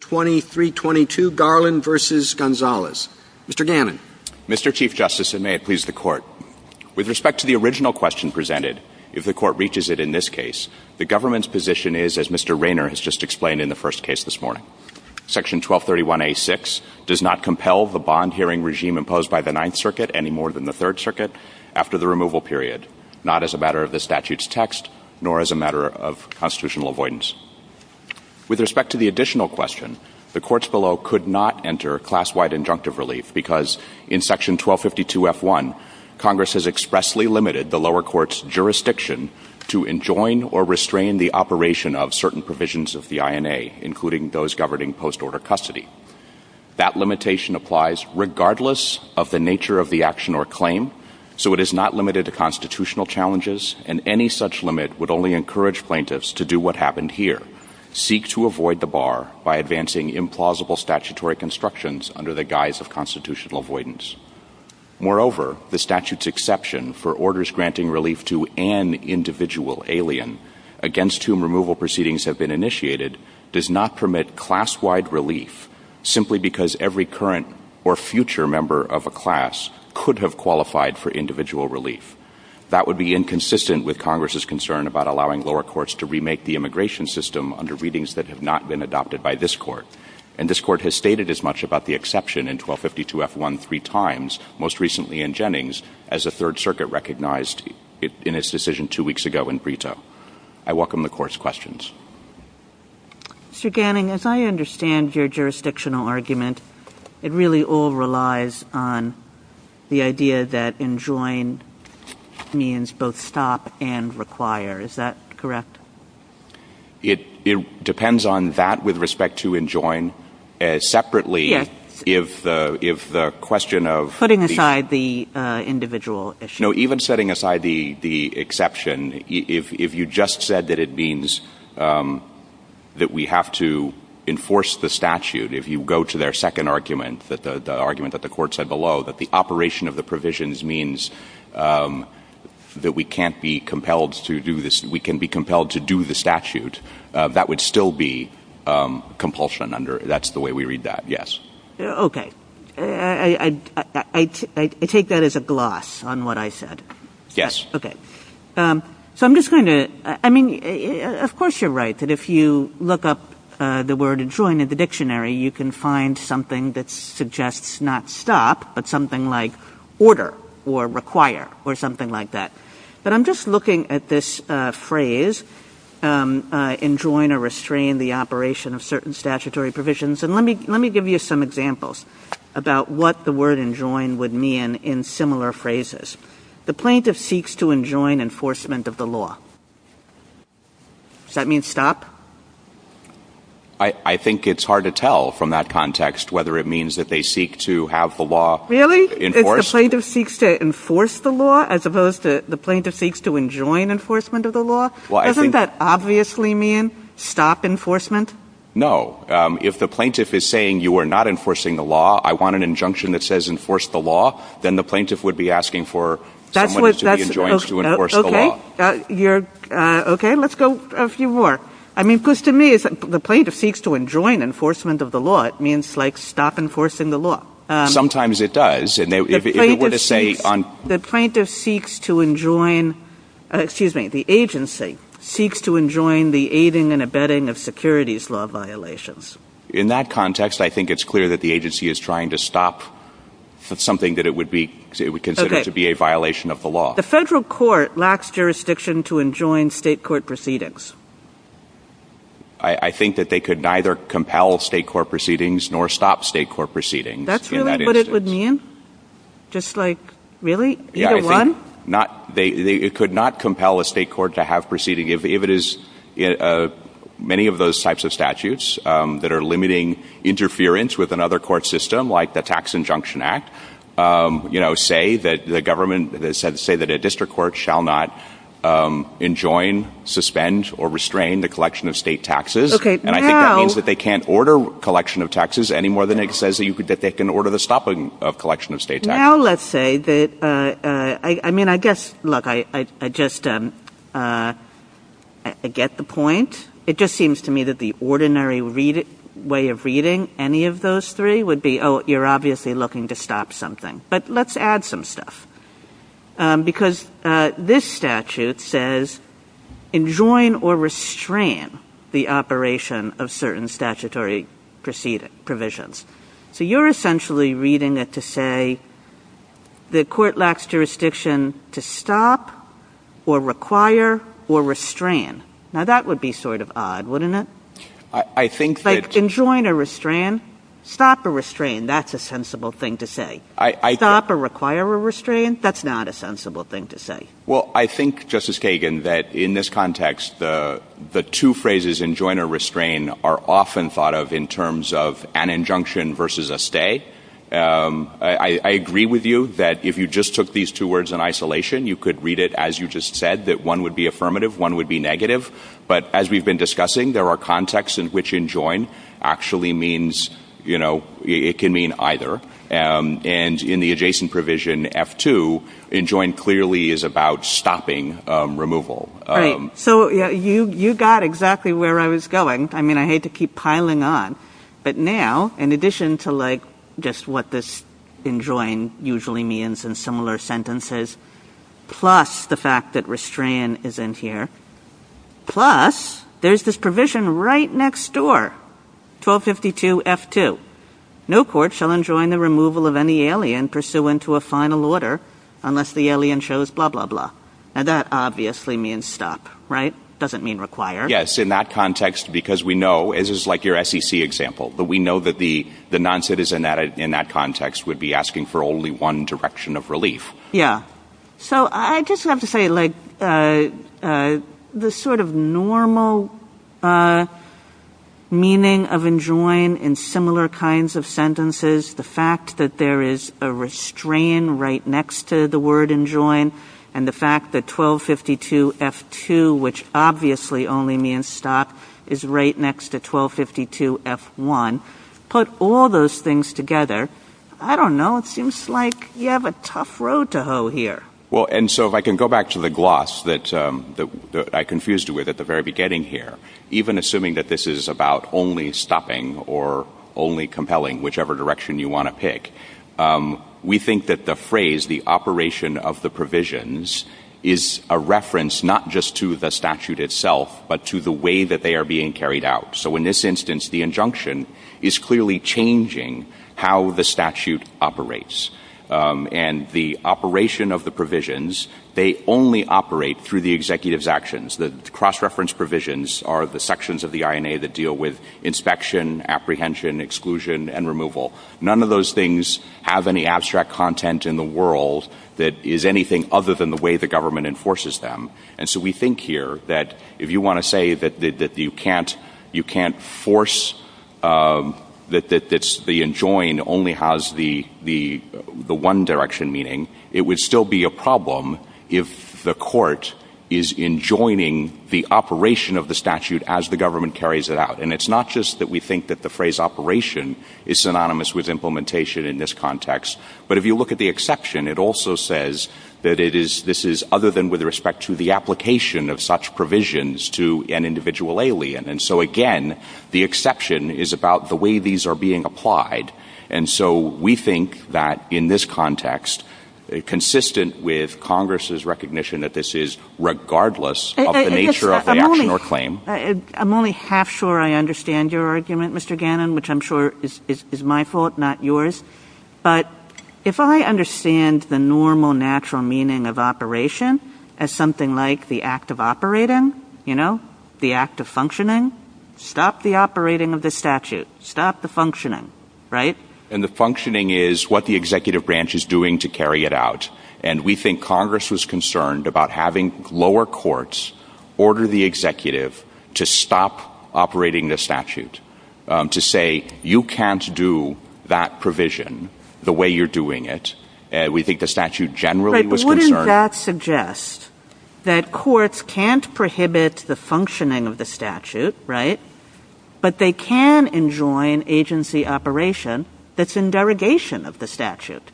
Mr. Gannon. Mr. Chief Justice, and may it please the Court, with respect to the original question presented, if the Court reaches it in this case, the government's position is, as Mr. Rayner has just explained in the first case this morning, Section 1231A.6 does not compel the bond-hearing regime imposed by the Ninth Circuit, any more than the Third Circuit, after the removal period, not as a matter of the statute's text, nor as a matter of the constitutional question, the courts below could not enter class-wide injunctive relief, because in Section 1252.f.1, Congress has expressly limited the lower court's jurisdiction to enjoin or restrain the operation of certain provisions of the INA, including those governing post-order custody. That limitation applies regardless of the nature of the action or claim, so it is not limited to constitutional challenges, and any such limit would only implausible statutory constructions under the guise of constitutional avoidance. Moreover, the statute's exception for orders granting relief to an individual alien against whom removal proceedings have been initiated does not permit class-wide relief simply because every current or future member of a class could have qualified for individual relief. That would be inconsistent with Congress's concern about allowing lower courts to remake the immigration system under readings that have not been adopted by this Court, and this Court has stated as much about the exception in 1252.f.1 three times, most recently in Jennings, as the Third Circuit recognized in its decision two weeks ago in Brito. I welcome the Court's questions. Ms. Gannon, as I understand your jurisdictional argument, it really all relies on the idea that enjoin means both stop and require. Is that correct? It depends on that with respect to enjoin. Separately, if the question of the — Putting aside the individual issue. No, even setting aside the exception, if you just said that it means that we have to enforce the statute, if you go to their second argument, the argument that the Court said below, that the operation of the provisions means that we can't be compelled to do this — we can be compelled to do the statute, that would still be compulsion under — that's the way we read that, yes. Okay. I take that as a gloss on what I said. Yes. Okay. So I'm just going to — I mean, of course you're right that if you look up the suggests not stop, but something like order or require or something like that. But I'm just looking at this phrase, enjoin or restrain the operation of certain statutory provisions, and let me give you some examples about what the word enjoin would mean in similar phrases. The plaintiff seeks to enjoin enforcement of the law. Does that mean stop? I think it's hard to tell from that context whether it means that they seek to have the law enforced. Really? It's the plaintiff seeks to enforce the law as opposed to the plaintiff seeks to enjoin enforcement of the law? Well, I think — Doesn't that obviously mean stop enforcement? No. If the plaintiff is saying you are not enforcing the law, I want an injunction that says enforce the law, then the plaintiff would be asking for someone to be enjoined to enforce the law. Okay. Let's go a few more. I mean, because to me, the plaintiff seeks to enjoin enforcement of the law, it means like stop enforcing the law. Sometimes it does. The plaintiff seeks to enjoin — excuse me, the agency seeks to enjoin the aiding and abetting of securities law violations. In that context, I think it's clear that the agency is trying to stop something that it would consider to be a violation of the law. The federal court lacks jurisdiction to enjoin state court proceedings. I think that they could neither compel state court proceedings nor stop state court proceedings in that instance. That's really what it would mean? Just like, really? Either one? Yeah, I think — it could not compel a state court to have proceedings. If it is — many of those types of statutes that are limiting interference with another court system, like the Tax Injunction Act, you know, say that the government — say that a district court shall not enjoin, suspend, or restrain the collection of state taxes. Okay, now — And I think that means that they can't order collection of taxes any more than it says that they can order the stopping of collection of state taxes. Now let's say that — I mean, I guess, look, I just get the point. It just seems to me that the ordinary way of reading any of those three would be, oh, you're obviously looking to stop something. But let's add some stuff. Because this statute says enjoin or restrain the operation of certain statutory provisions. So you're essentially reading it to say the court lacks jurisdiction to stop or require or restrain. Now that would be sort of odd, wouldn't it? I think that — But enjoin or restrain — stop or restrain, that's a sensible thing to say. I — Stop or require or restrain, that's not a sensible thing to say. Well, I think, Justice Kagan, that in this context, the two phrases, enjoin or restrain, are often thought of in terms of an injunction versus a stay. I agree with you that if you just took these two words in isolation, you could read it as you just said, that one would be affirmative, one would be negative. But as we've been discussing, there are contexts in which enjoin actually means — you know, it can mean either. And in the adjacent provision, F2, enjoin clearly is about stopping removal. Right. So you got exactly where I was going. I mean, I hate to keep piling on. But now, in addition to, like, just what this enjoin usually means in similar sentences, plus the fact that restrain is in here, plus there's this provision right next door, 1252 F2. No court shall enjoin the removal of any alien pursuant to a final order unless the alien shows blah, blah, blah. Now, that obviously means stop, right? Doesn't mean require. Yes. In that context, because we know — this is like your SEC example — but we know that the noncitizen in that context would be asking for only one direction of relief. Yeah. So I just have to say, like, the sort of normal meaning of enjoin in similar kinds of sentences, the fact that there is a restrain right next to the word enjoin, and the fact that 1252 F2, which obviously only means stop, is right next to 1252 F1. Put all those things together, I don't know, it seems like you have a tough road to hoe here. Well, and so if I can go back to the gloss that I confused you with at the very beginning here, even assuming that this is about only stopping or only compelling whichever direction you want to pick, we think that the phrase, the operation of the provisions, is a reference not just to the statute itself, but to the way that they are being carried out. So in this instance, the injunction is clearly changing how the statute operates. And the operation of the provisions, they only operate through the executive's actions. The cross-reference provisions are the sections of the INA that deal with inspection, apprehension, exclusion, and removal. None of those things have any abstract content in the world that is anything other than the way the government enforces them. And so we think here that if you want to say that you can't force, that the enjoin only has the one direction meaning, it would still be a problem if the court is enjoining the operation of the statute as the government carries it out. And it's not just that we think that the phrase operation is synonymous with implementation in this context, but if you look at the exception, it also says that this is other than with respect to the application of such provisions to an individual alien. And so again, the exception is about the way these are being applied. And so we think that in this context, consistent with Congress's recognition that this is regardless of the nature of the action or claim. I'm only half sure I understand your argument, Mr. Gannon, which I'm sure is my fault, not yours. But if I understand the normal natural meaning of operation, as something like the act of operating, the act of functioning, stop the operating of the statute. Stop the functioning. Right? And the functioning is what the executive branch is doing to carry it out. And we think Congress was concerned about having lower courts order the executive to stop operating the statute. To say you can't do that provision the way you're doing it. We think the statute generally was concerned. Right. But wouldn't that suggest that courts can't prohibit the functioning of the statute, right? But they can enjoin agency operation that's in derogation of the statute.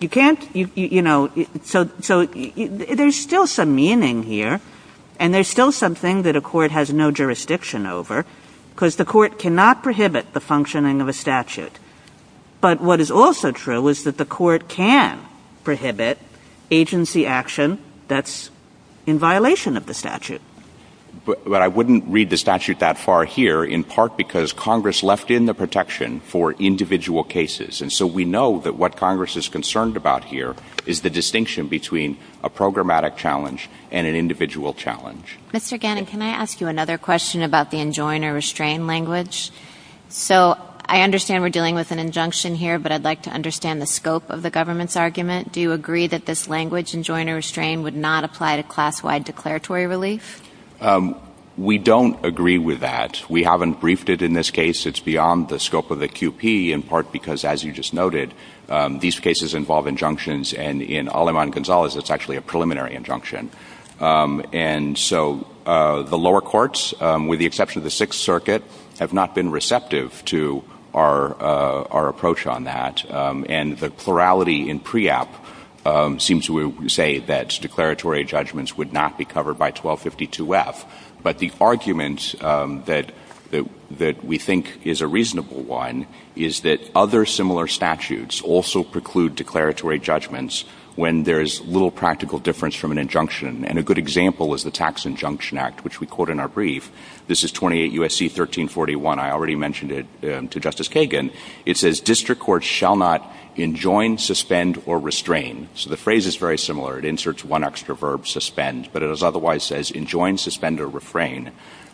You can't, you know, so there's still some meaning here, and there's still something that a court has no jurisdiction over, because the court cannot prohibit the functioning of a statute. But what is also true is that the court can prohibit agency action that's in violation of the statute. But I wouldn't read the statute that far here, in part because Congress left in the protection for individual cases. And so we know that what Congress is concerned about here is the distinction between a programmatic challenge and an individual challenge. Mr. Gannon, can I ask you another question about the enjoin or restrain language? So I understand we're dealing with an injunction here, but I'd like to understand the scope of the government's argument. Do you agree that this language, enjoin or restrain, would not apply to class-wide declaratory relief? We don't agree with that. We haven't briefed it in this case. It's beyond the scope of the QP, in part because, as you just noted, these cases involve injunctions. And in Aleman Gonzalez, it's actually a preliminary injunction. And so the lower courts, with the exception of the Sixth Circuit, have not been receptive to our approach on that. And the plurality in PREAP seems to say that declaratory judgments would not be covered by 1252F. But the argument that we think is a reasonable one is that other similar statutes also preclude declaratory judgments when there's little practical difference from an injunction. And a good example is the Tax Injunction Act, which we quote in our brief. This is 28 U.S.C. 1341. I already mentioned it to Justice Kagan. It says, District courts shall not enjoin, suspend, or restrain. So the phrase is very similar. It inserts one extra verb, suspend. But it otherwise says, enjoin, suspend, or refrain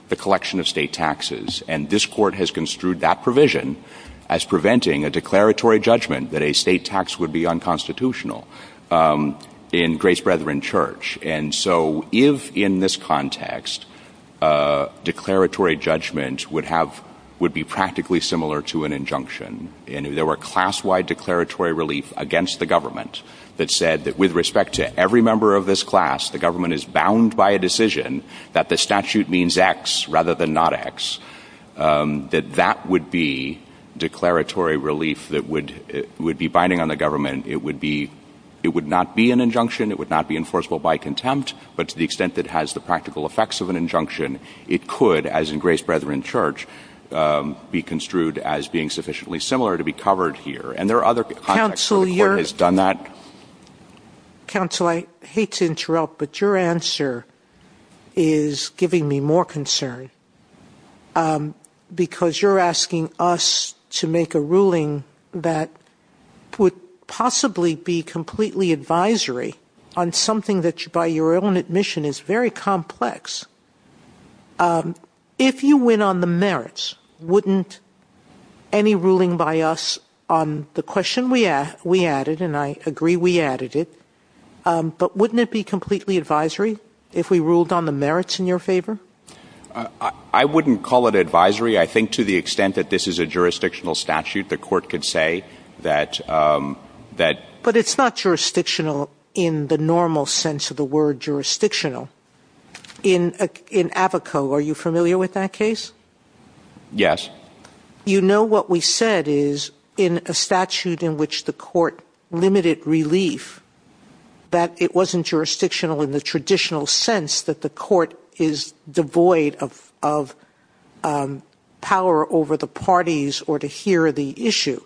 the collection of state taxes. And this Court has construed that provision as preventing a declaratory judgment that a state tax would be unconstitutional in Grace Brethren Church. And so if, in this context, declaratory judgment would have – would be practically similar to an injunction, and if there were class-wide declaratory relief against the government that said that with respect to every member of this class, the government is bound by a decision that the statute means X rather than not X, that that would be declaratory relief that would – would be binding on the government. It would be – it would not be an injunction. It would not be enforceable by contempt. But to the extent that it has the practical effects of an injunction, it could, as in Grace Brethren Church, be construed as being sufficiently similar to be covered here. And there are other contexts where the Court has done that. Counsel, I hate to interrupt, but your answer is giving me more concern because you're asking us to make a ruling that would possibly be completely advisory on something that, by your own admission, is very complex. If you win on the merits, wouldn't any on the question we – we added, and I agree we added it, but wouldn't it be completely advisory if we ruled on the merits in your favor? I wouldn't call it advisory. I think to the extent that this is a jurisdictional statute, the Court could say that – that – But it's not jurisdictional in the normal sense of the word jurisdictional. In – in – are you familiar with that case? Yes. You know what we said is, in a statute in which the Court limited relief, that it wasn't jurisdictional in the traditional sense that the Court is devoid of – of power over the parties or to hear the issue.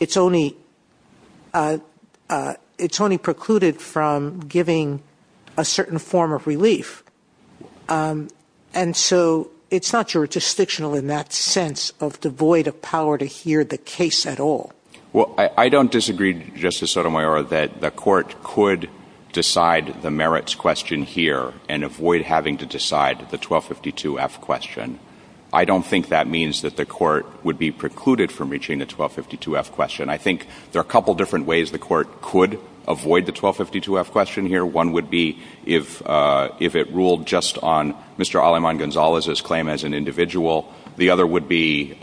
It's only – it's only precluded from giving a certain form of advice. It's not jurisdictional in that sense of devoid of power to hear the case at all. Well, I don't disagree, Justice Sotomayor, that the Court could decide the merits question here and avoid having to decide the 1252-F question. I don't think that means that the Court would be precluded from reaching the 1252-F question. I think there are a couple different ways the Court could avoid the 1252-F question here. One would be if – if it ruled just on Mr. Aleman Gonzalez's claim as an individual. The other would be,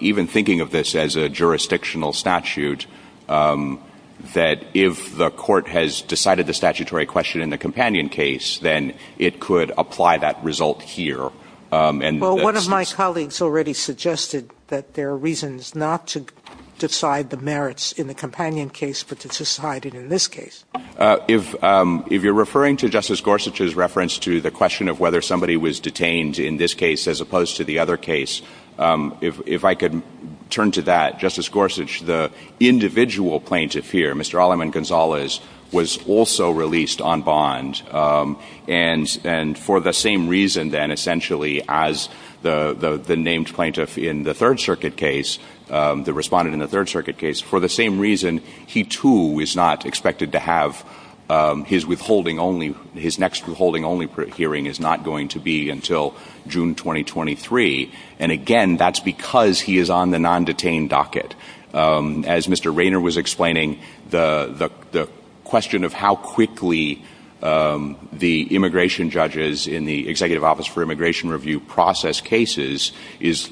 even thinking of this as a jurisdictional statute, that if the Court has decided the statutory question in the companion case, then it could apply that result here. And that's – Well, one of my colleagues already suggested that there are reasons not to decide the merits in the companion case but to decide it in this case. If – if you're referring to Justice Gorsuch's reference to the question of whether somebody was detained in this case as opposed to the other case, if I could turn to that. Justice Gorsuch, the individual plaintiff here, Mr. Aleman Gonzalez, was also released on bond. And – and for the same reason, then, essentially, as the – the named plaintiff in the Third Circuit case, the respondent in the Third Circuit case, for the same reason, he, too, is not expected to have his withholding only – his next withholding only hearing is not going to be until June 2023. And again, that's because he is on the non-detained docket. As Mr. Rayner was explaining, the – the question of how quickly the immigration judges in the Executive Office for Immigration Review process cases is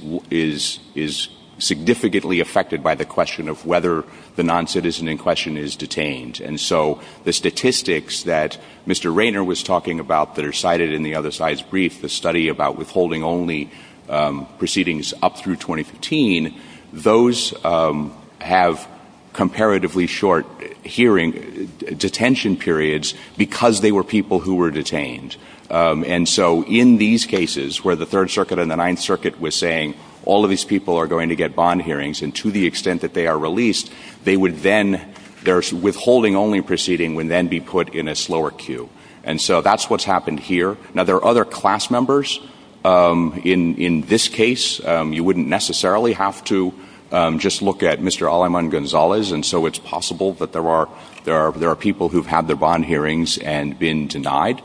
– is significantly affected by the question of whether the noncitizen in question is detained. And so the statistics that Mr. Rayner was talking about that are cited in the other side's brief, the study about withholding only proceedings up through 2015, those have comparatively short hearing – detention periods because they were people who were detained. And so in these cases, where the Third Circuit and the ICE are going to get bond hearings, and to the extent that they are released, they would then – their withholding only proceeding would then be put in a slower queue. And so that's what's happened here. Now, there are other class members. In – in this case, you wouldn't necessarily have to just look at Mr. Aleman Gonzalez. And so it's possible that there are – there are – there are people who've had their bond hearings and been denied,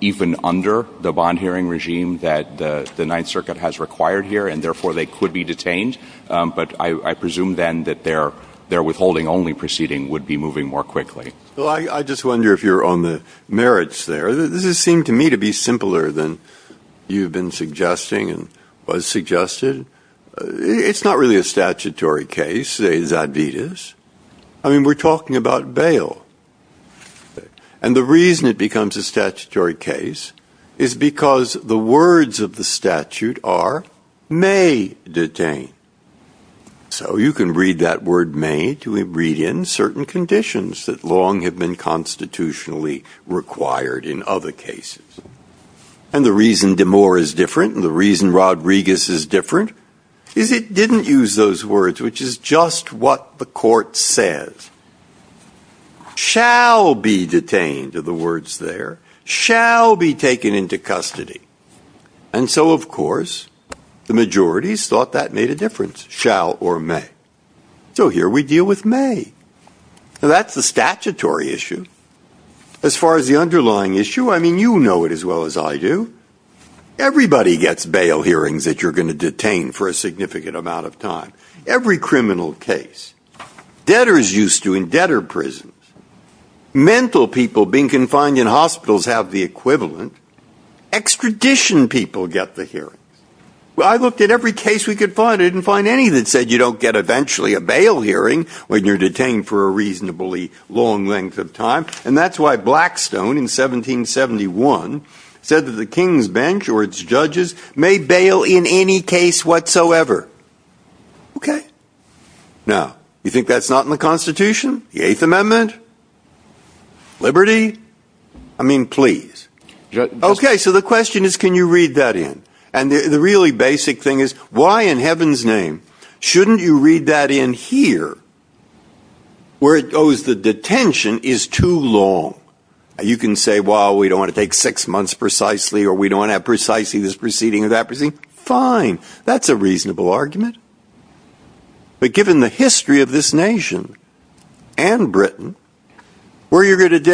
even under the bond hearing regime that the – the Ninth Circuit has required here, and therefore they could be detained. But I – I presume then that their – their withholding only proceeding would be moving more quickly. Well, I – I just wonder if you're on the merits there. This has seemed to me to be simpler than you've been suggesting and was suggested. It's not really a statutory case, say, Zadvydas. I mean, we're talking about bail. And the reason it may detain – so you can read that word, may, to read in certain conditions that long have been constitutionally required in other cases. And the reason Demore is different and the reason Rodriguez is different is it didn't use those words, which is just what the court says. Shall be detained are the words there. Shall be detained are the words there. And the reason Demore and Rodriguez thought that made a difference, shall or may. So here we deal with may. Now, that's the statutory issue. As far as the underlying issue, I mean, you know it as well as I do. Everybody gets bail hearings that you're going to detain for a significant amount of time. Every criminal case. Debtors used to in debtor prisons. Mental people being confined in hospitals have the equivalent. Extradition people get the hearings. Well, I looked at every case we could find. I didn't find any that said you don't get eventually a bail hearing when you're detained for a reasonably long length of time. And that's why Blackstone in 1771 said that the king's bench or its judges may bail in any case whatsoever. Okay. Now, you think that's not in the Constitution? The Eighth Amendment? Liberty? I mean, please. Okay, so the question is can you the really basic thing is why in heaven's name shouldn't you read that in here where it goes the detention is too long? You can say, well, we don't want to take six months precisely or we don't want to have precisely this proceeding or that proceeding. Fine. That's a reasonable argument. But given the history of this nation and Britain, where at least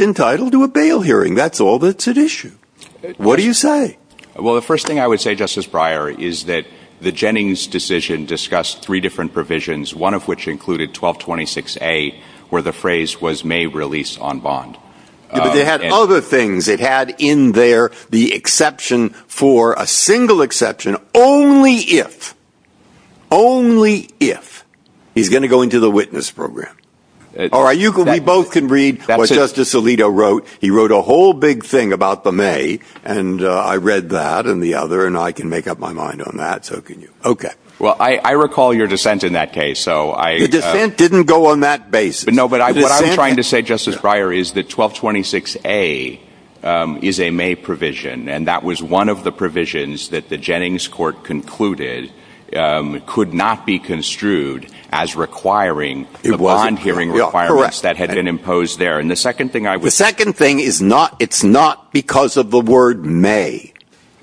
entitled to a bail hearing, that's all that's at issue. What do you say? Well, the first thing I would say, Justice Breyer, is that the Jennings decision discussed three different provisions, one of which included 1226A, where the phrase was may release on bond. But they had other things. It had in there the exception for a single exception only if, only if he's going to go into the witness program. All right, you can be both can read what Justice Alito wrote. He wrote a whole big thing about the may. And I read that and the other and I can make up my mind on that. So can you. Okay. Well, I recall your dissent in that case. So I. The dissent didn't go on that basis. But no, but what I was trying to say, Justice Breyer, is that 1226A is a may provision. And that was one of the provisions that the Jennings court concluded could not be construed as requiring the bond hearing requirements that had been imposed there. And the second thing I would. The second thing is not, it's not because of the word may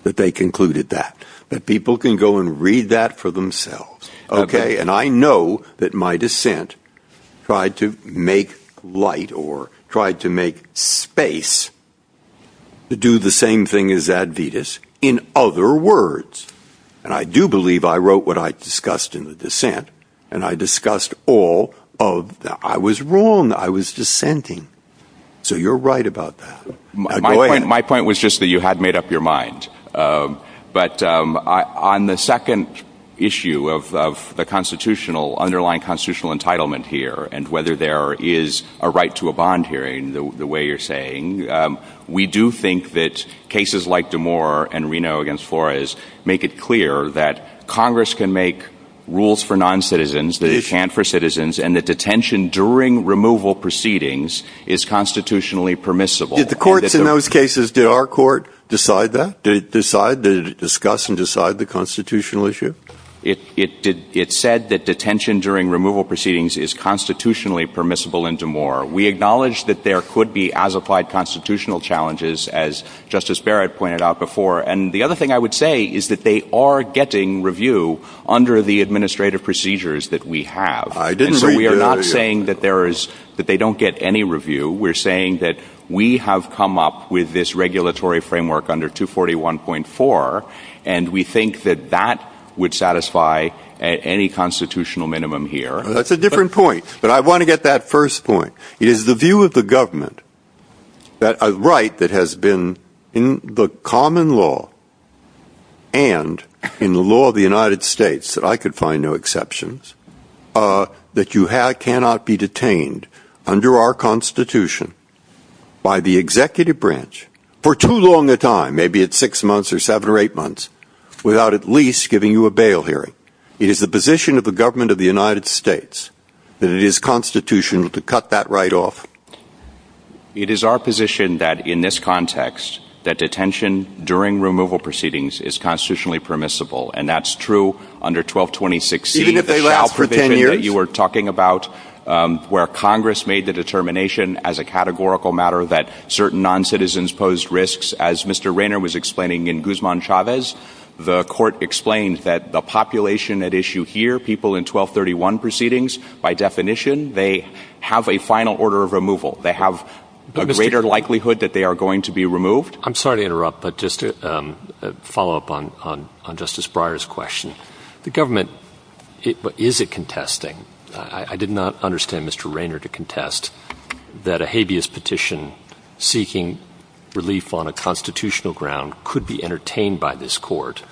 that they concluded that. But people can go and read that for themselves. Okay. And I know that my dissent tried to make light or tried to make space to do the same thing as Advitas in other words. And I do believe I wrote what I discussed in the dissent and I discussed all of that. I was wrong. I was dissenting. So you're right about that. Go ahead. My point was just that you had made up your mind. But on the second issue of the constitutional underlying constitutional entitlement here and whether there is a right to a bond hearing the way you're saying, we do think that cases like Damore and Reno against Flores make it clear that Congress can make rules for noncitizens that it can't for citizens and that detention during removal proceedings is constitutionally permissible. Did the courts in those cases, did our court decide that? Did it decide? Did it discuss and decide the constitutional issue? It said that detention during removal proceedings is constitutionally permissible in Damore. We acknowledge that there could be as applied constitutional challenges as Justice Barrett pointed out before. And the other thing I would say is that they are getting review under the administrative procedures that we have. And so we are not saying that there is that they don't get any review. We're saying that we have come up with this regulatory framework under 241.4 and we think that that would satisfy any constitutional minimum here. That's a different point. But I want to get that first point. It is the view of the government that a right that has been in the common law and in the law of the United States, that I could find no exceptions, that you cannot be detained under our Constitution by the executive branch for too long a time, maybe it's six months or seven or eight months, without at least giving you a bail hearing. It is the position of the government of the United States that it is constitutional to cut that right off. It is our position that in this context, that detention during removal proceedings is constitutionally permissible. And that's true under 1226C. Even if they last for ten years? The provision that you were talking about where Congress made the determination as a categorical matter that certain noncitizens posed risks, as Mr. Rayner was explaining in Guzman-Chavez, the court explained that the population at issue here, people in 1231 proceedings, by definition, they have a final order of removal. They have a greater likelihood that they are going to be removed. I'm sorry to interrupt, but just a follow-up on Justice Breyer's question. The government — is it contesting? I did not understand Mr. Rayner to contest that a habeas petition seeking relief on a constitutional ground could be entertained by this Court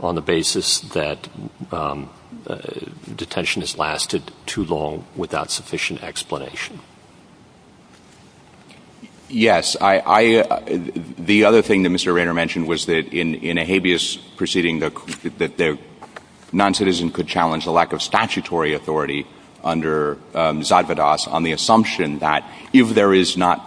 on the basis that detention has lasted too long without sufficient explanation. Yes. I — the other thing that Mr. Rayner mentioned was that in a habeas proceeding, that the noncitizen could challenge the lack of statutory authority under Zadvadas on the assumption that if there is not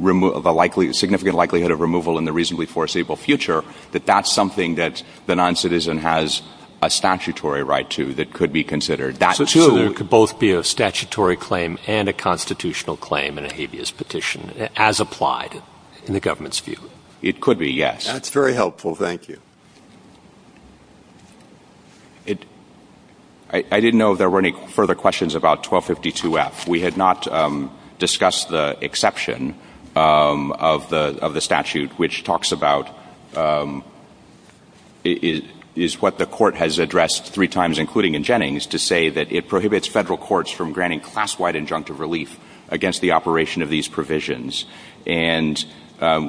a significant likelihood of removal in the reasonably foreseeable future, that that's something that the noncitizen has a statutory right to that could be considered. So there could both be a statutory claim and a constitutional claim in a habeas petition, as applied in the government's view? It could be, yes. That's very helpful. Thank you. I didn't know if there were any further questions about 1252F. We had not discussed the exception of the statute, which talks about — is what the Court has addressed three times, including in Jennings, to say that it prohibits Federal courts from granting class-wide injunctive relief against the operation of these provisions. And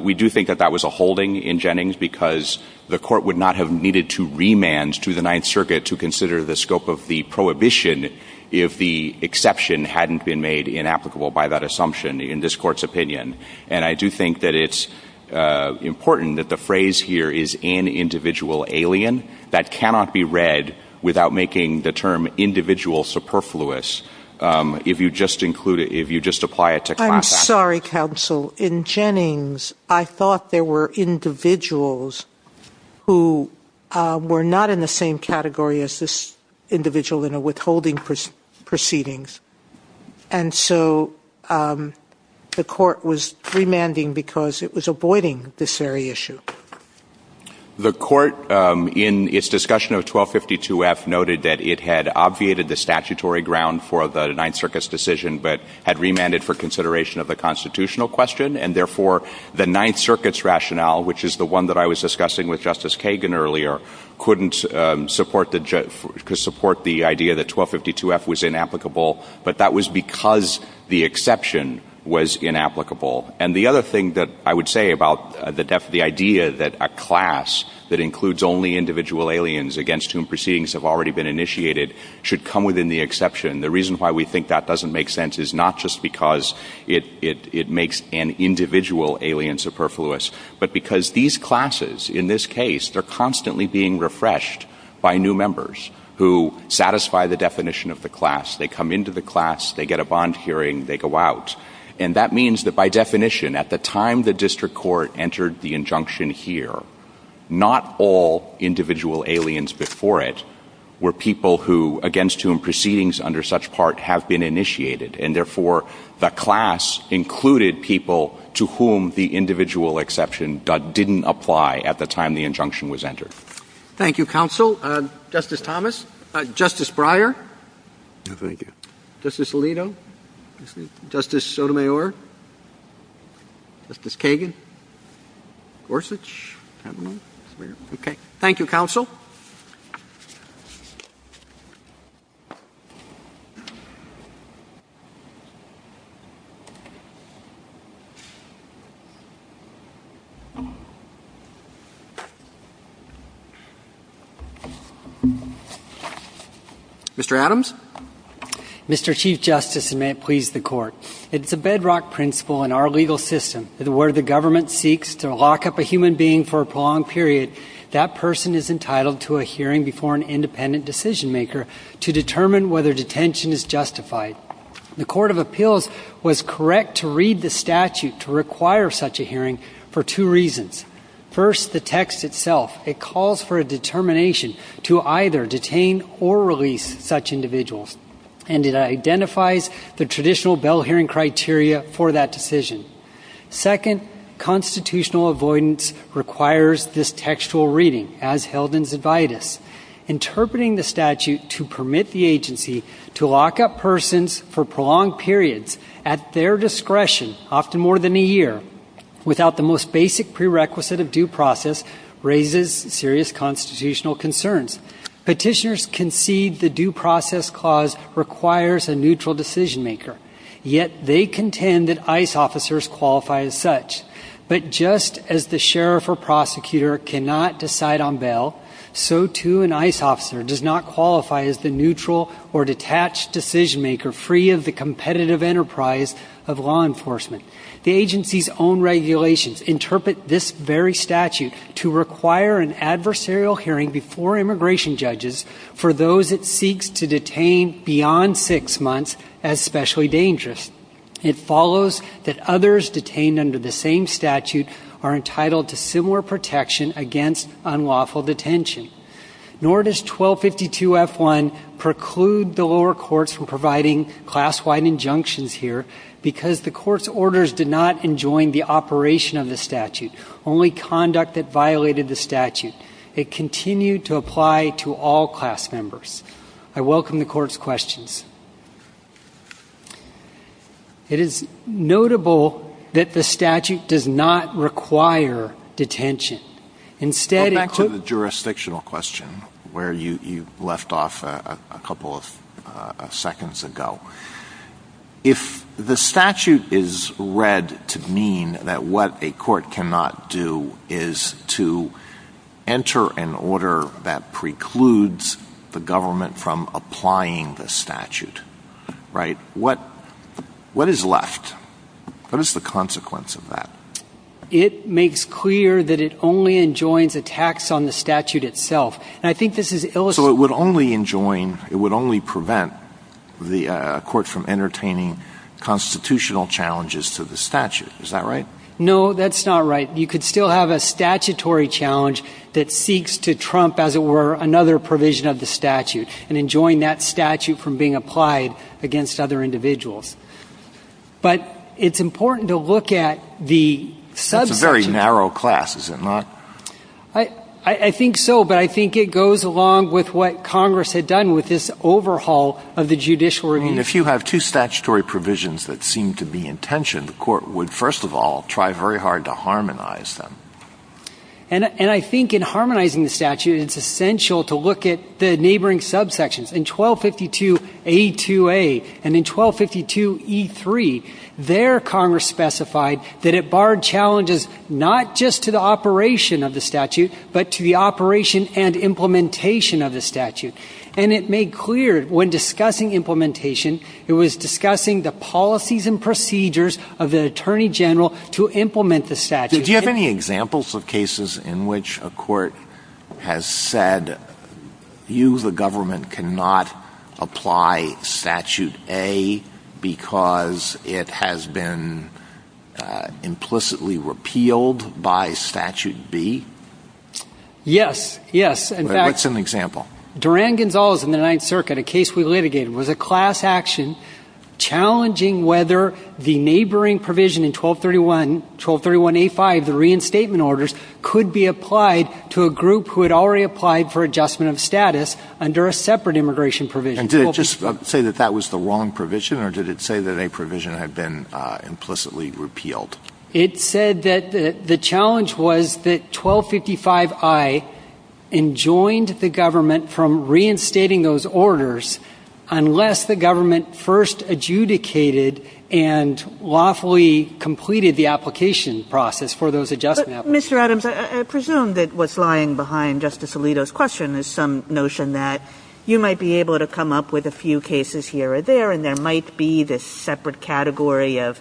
we do think that that was a holding in Jennings because the Court would not have needed to remand to the Ninth Circuit to consider the scope of the prohibition if the exception hadn't been made inapplicable by that assumption in this Court's opinion. And I do think that it's important that the phrase here is an individual alien. That cannot be read without making the term individual superfluous. If you just include — if you just apply it to class- I'm sorry, Counsel. In Jennings, I thought there were individuals who were not in the same category as this individual in a withholding proceedings. And so the Court was remanding because it was avoiding this very issue. The Court, in its discussion of 1252F, noted that it had obviated the statutory ground for the Ninth Circuit's decision but had remanded for consideration of the constitutional question. And therefore, the Ninth Circuit's rationale, which is the one that I was discussing with Justice Kagan earlier, couldn't support the idea that 1252F was inapplicable. But that was because the exception was inapplicable. And the other thing that I would say about the idea that a class that includes only individual aliens against whom proceedings have already been initiated should come within the exception, the reason why we think that doesn't make sense is not just because it makes an individual alien superfluous, but because these classes, in this case, they're constantly being refreshed by new members who satisfy the definition of the class. They come into the class. They get a bond hearing. They go out. And that means that, by definition, at the time the district court entered the injunction here, not all individual aliens before it were people who against whom proceedings under such part have been initiated. And therefore, the class included people to whom the individual exception didn't apply at the time the injunction was entered. Thank you, Counsel. Justice Thomas? Justice Breyer? No, thank you. Justice Alito? Justice Sotomayor? Justice Kagan? Gorsuch? I don't know. Okay. Thank you, Counsel. Mr. Adams? Mr. Chief Justice, and may it please the Court, it's a bedrock principle in our legal system that where the government seeks to lock up a human being for a prolonged period, that person is entitled to a hearing before an independent decision-maker to determine whether detention is justified. The Court of Appeals was correct to read the statute to require such a hearing for two reasons. First, the text itself, it calls for a determination to either detain or release such individuals, and it identifies the traditional bail hearing criteria for that decision. Second, constitutional avoidance requires this textual reading, as held in Zobitis. Interpreting the statute to permit the agency to lock up persons for prolonged periods at their discretion, often more than a year, without the most basic prerequisite of due process, raises serious constitutional concerns. Petitioners concede the due process clause requires a neutral decision-maker, yet they contend that ICE officers qualify as such. But just as the sheriff or prosecutor cannot decide on bail, so too an ICE officer does not qualify as the neutral or detached decision-maker, free of the competitive enterprise of law enforcement. The agency's own regulations interpret this very statute to require an adversarial hearing before immigration judges for those it seeks to detain beyond six months as specially dangerous. It follows that others detained under the same statute are entitled to similar protection against unlawful detention. Nor does 1252F1 preclude the lower courts from providing class-wide injunctions here because the court's orders did not enjoin the operation of the statute, only conduct that violated the statute. It continued to apply to all class members. I welcome the court's questions. It is notable that the statute does not require detention. Instead, it could- Go back to the jurisdictional question where you left off a couple of seconds ago. If the statute is read to mean that what a court cannot do is to enter an order that precludes the government from applying the statute, right, what is left? What is the consequence of that? It makes clear that it only enjoins attacks on the statute itself. And I think this is ill- So it would only enjoin, it would only prevent the court from entertaining constitutional challenges to the statute. Is that right? No, that's not right. You could still have a statutory challenge that seeks to trump, as it were, another provision of the statute and enjoin that statute from being applied against other individuals. But it's important to look at the- It's a very narrow class, is it not? I think so, but I think it goes along with what Congress had done with this overhaul of the judicial review. If you have two statutory provisions that seem to be in tension, the court would, first of all, try very hard to harmonize them. And I think in harmonizing the statute, it's essential to look at the neighboring subsections. In 1252A2A and in 1252E3, there Congress specified that it barred challenges not just to the operation of the statute, but to the operation and implementation of the statute. And it made clear when discussing implementation, it was discussing the policies and procedures of the attorney general to implement the statute. Do you have any examples of cases in which a court has said, you, the government, cannot apply Statute A because it has been implicitly repealed by Statute B? Yes, yes. What's an example? Durand-Gonzalez in the Ninth Circuit, a case we litigated, was a class action challenging whether the neighboring provision in 1231A5, the reinstatement orders, could be applied to a group who had already applied for adjustment of status under a separate immigration provision. And did it just say that that was the wrong provision, or did it say that a provision had been implicitly repealed? It said that the challenge was that 1255I enjoined the government from reinstating those orders unless the government first adjudicated and lawfully completed the application process for those adjustment applications. But, Mr. Adams, I presume that what's lying behind Justice Alito's question is some notion that you might be able to come up with a few cases here or there, and there might be this separate category of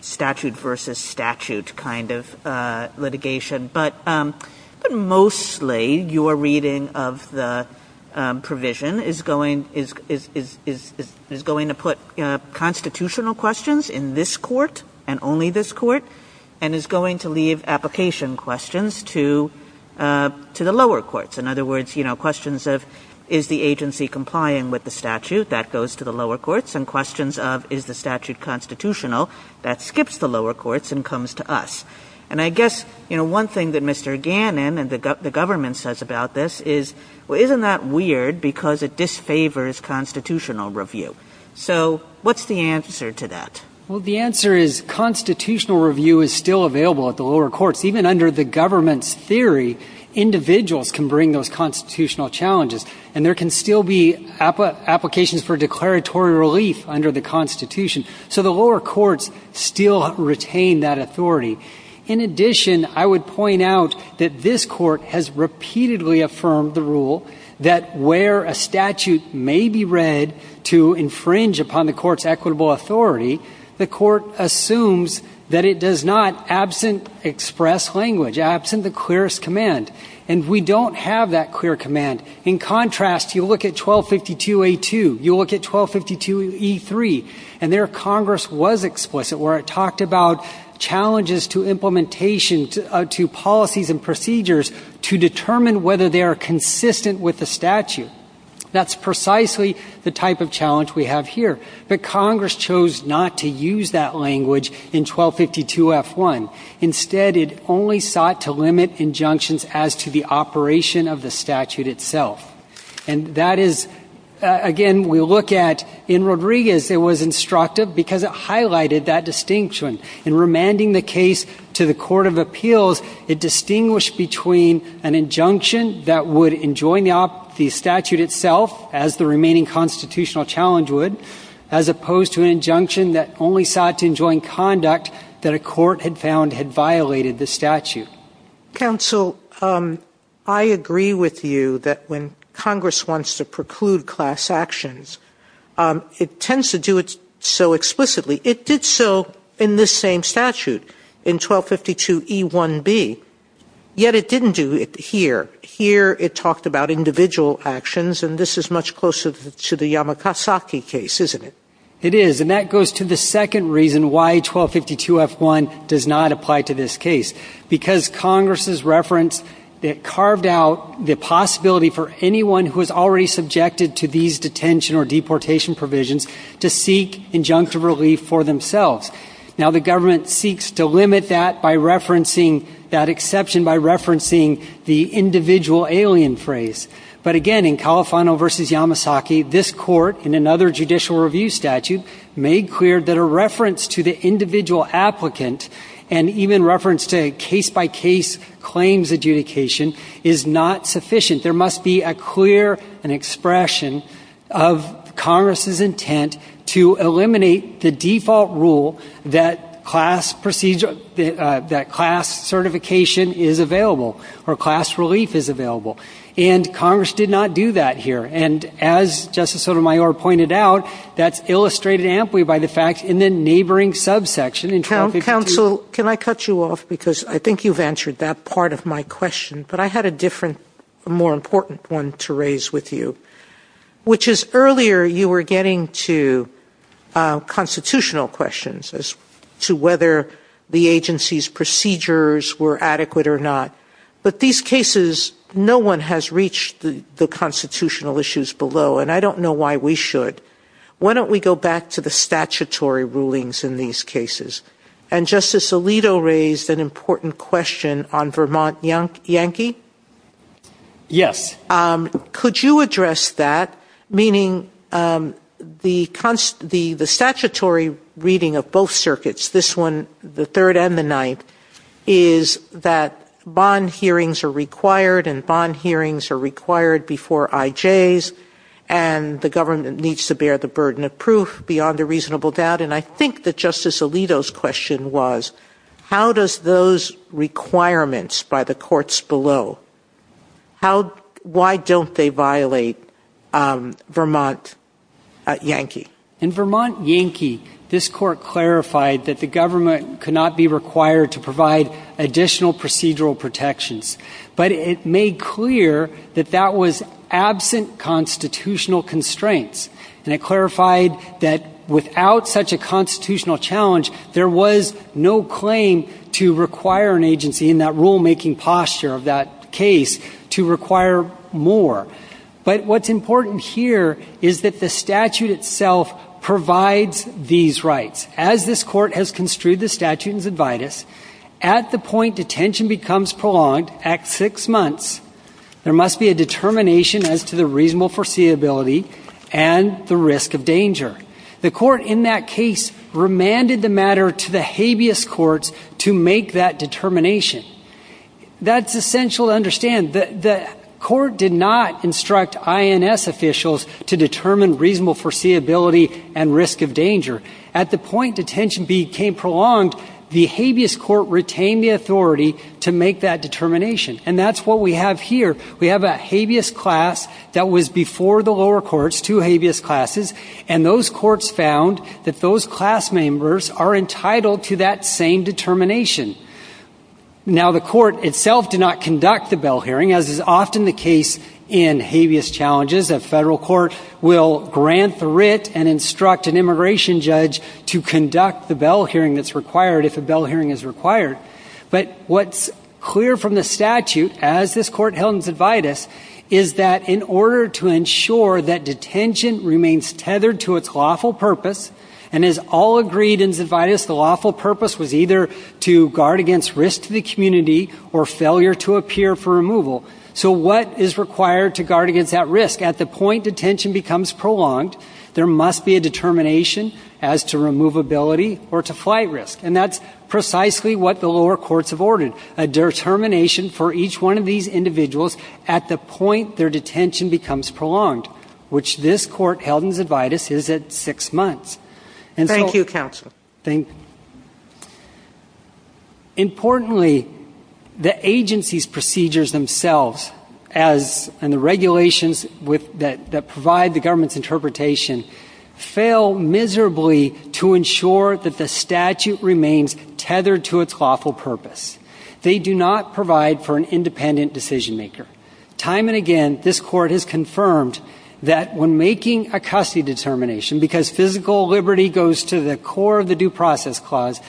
statute versus statute kind of litigation. But mostly, your reading of the provision is going to put constitutional questions in this court and only this court, and is going to leave application questions to the lower courts. In other words, you know, questions of, is the agency complying with the statute? That goes to the lower courts. And questions of, is the statute constitutional? That skips the lower courts and comes to us. And I guess, you know, one thing that Mr. Gannon and the government says about this is, well, isn't that weird because it disfavors constitutional review? So what's the answer to that? Well, the answer is constitutional review is still available at the lower courts. Even under the government's theory, individuals can bring those constitutional challenges, and there can still be applications for declaratory relief under the Constitution. So the lower courts still retain that authority. In addition, I would point out that this court has repeatedly affirmed the rule that where a statute may be read to infringe upon the court's equitable authority, the court assumes that it does not, absent express language, absent the clearest command. And we don't have that clear command. In contrast, you look at 1252A2. You look at 1252E3, and there Congress was explicit where it talked about challenges to implementation, to policies and procedures to determine whether they are consistent with the statute. That's precisely the type of challenge we have here. But Congress chose not to use that language in 1252F1. Instead, it only sought to limit injunctions as to the operation of the statute itself. And that is, again, we look at in Rodriguez it was instructive because it highlighted that distinction. In remanding the case to the court of appeals, it distinguished between an injunction that would enjoin the statute itself, as the remaining constitutional challenge would, as opposed to an injunction that only sought to enjoin conduct that a court had found had violated the statute. Counsel, I agree with you that when Congress wants to preclude class actions, it tends to do it so explicitly. It did so in this same statute, in 1252E1B. Yet it didn't do it here. Here it talked about individual actions, and this is much closer to the Yamakasaki case, isn't it? It is. And that goes to the second reason why 1252F1 does not apply to this case, because Congress's reference carved out the possibility for anyone who is already subjected to these detention or deportation provisions to seek injunctive relief for themselves. Now, the government seeks to limit that by referencing that exception, by referencing the individual alien phrase. But again, in Califano v. Yamasaki, this court, in another judicial review statute, made clear that a reference to the individual applicant, and even reference to case-by-case claims adjudication, is not sufficient. There must be a clear expression of Congress's intent to eliminate the default rule that class certification is available or class relief is available. And Congress did not do that here. And as Justice Sotomayor pointed out, that's illustrated amply by the fact in the neighboring subsection in 1252. So can I cut you off, because I think you've answered that part of my question, but I had a different, more important one to raise with you, which is earlier you were getting to constitutional questions as to whether the agency's procedures were adequate or not. But these cases, no one has reached the constitutional issues below, and I don't know why we should. Why don't we go back to the statutory rulings in these cases? And Justice Alito raised an important question on Vermont Yankee. Yes. Could you address that, meaning the statutory reading of both circuits, this one, the third and the ninth, is that bond hearings are required, and bond hearings are required before IJs, and the government needs to bear the burden of proof beyond a reasonable doubt. And I think that Justice Alito's question was, how does those requirements by the courts below, why don't they violate Vermont Yankee? In Vermont Yankee, this Court clarified that the government could not be required to provide additional procedural protections, but it made clear that that was absent constitutional constraints. And it clarified that without such a constitutional challenge, there was no claim to require an agency in that rulemaking posture of that case to require more. But what's important here is that the statute itself provides these rights. As this Court has construed the statute in its advidus, at the point detention becomes prolonged at six months, there must be a determination as to the reasonable foreseeability and the risk of danger. The Court in that case remanded the matter to the habeas courts to make that determination. That's essential to understand. The Court did not instruct INS officials to determine reasonable foreseeability and risk of danger. At the point detention became prolonged, the habeas court retained the authority to make that determination. And that's what we have here. We have a habeas class that was before the lower courts, two habeas classes, and those courts found that those class members are entitled to that same determination. Now, the Court itself did not conduct the bell hearing, as is often the case in habeas challenges. A federal court will grant the writ and instruct an immigration judge to conduct the bell hearing that's required, if a bell hearing is required. But what's clear from the statute, as this Court held in its advidus, is that in order to ensure that detention remains tethered to its lawful purpose, and as all agreed in its advidus, the lawful purpose was either to guard against risk to the community or failure to appear for removal. So what is required to guard against that risk? At the point detention becomes prolonged, there must be a determination as to removability or to flight risk. And that's precisely what the lower courts have ordered, a determination for each one of these individuals at the point their detention becomes prolonged, which this Court held in its advidus is at six months. Thank you, Counsel. Thank you. Importantly, the agency's procedures themselves and the regulations that provide the government's interpretation fail miserably to ensure that the statute remains tethered to its lawful purpose. They do not provide for an independent decision maker. Time and again, this Court has confirmed that when making a custody determination, because physical liberty goes to the core of the due process clause,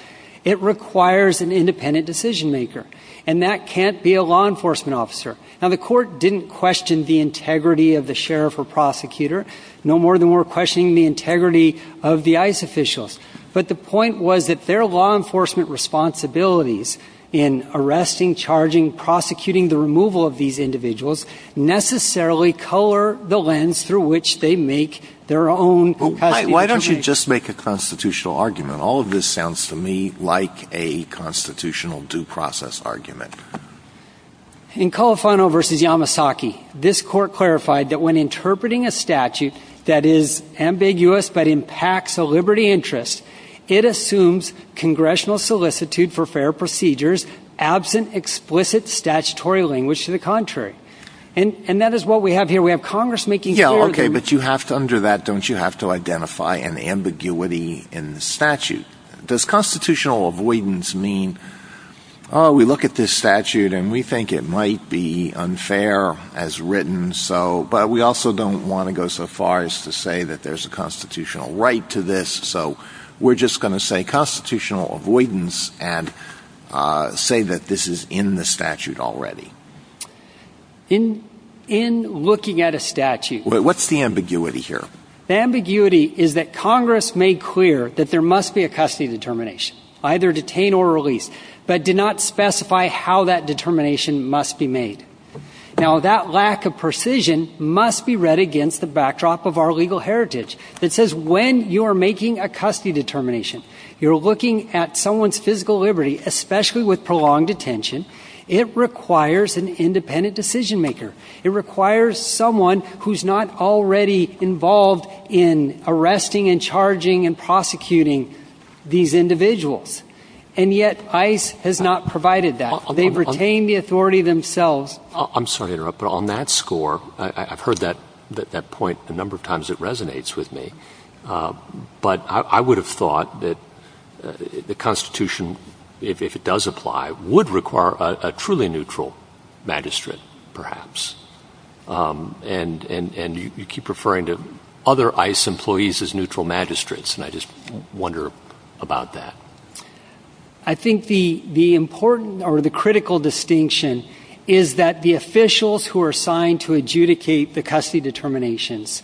it requires an independent decision maker. And that can't be a law enforcement officer. Now, the Court didn't question the integrity of the sheriff or prosecutor. No more than we're questioning the integrity of the ICE officials. But the point was that their law enforcement responsibilities in arresting, charging, prosecuting the removal of these individuals necessarily color the lens through which they make their own custody determination. Why don't you just make a constitutional argument? All of this sounds to me like a constitutional due process argument. In Colofano v. Yamasaki, this Court clarified that when interpreting a statute that is ambiguous but impacts a liberty interest, it assumes congressional solicitude for fair procedures, absent explicit statutory language to the contrary. And that is what we have here. We have Congress making clear that we – Yeah, okay. But you have to – under that, don't you have to identify an ambiguity in the statute? Does constitutional avoidance mean, oh, we look at this statute and we think it might be unfair as written, but we also don't want to go so far as to say that there's a constitutional right to this, so we're just going to say constitutional avoidance and say that this is in the statute already? In looking at a statute – What's the ambiguity here? The ambiguity is that Congress made clear that there must be a custody determination, either detain or release, but did not specify how that determination must be made. Now, that lack of precision must be read against the backdrop of our legal heritage that says when you're making a custody determination, you're looking at someone's physical liberty, especially with prolonged detention, it requires an independent decision maker. It requires someone who's not already involved in arresting and charging and prosecuting these individuals, and yet ICE has not provided that. They've retained the authority themselves. I'm sorry to interrupt, but on that score, I've heard that point a number of times. It resonates with me. But I would have thought that the Constitution, if it does apply, would require a truly neutral magistrate perhaps, and you keep referring to other ICE employees as neutral magistrates, and I just wonder about that. I think the important or the critical distinction is that the officials who are assigned to adjudicate the custody determinations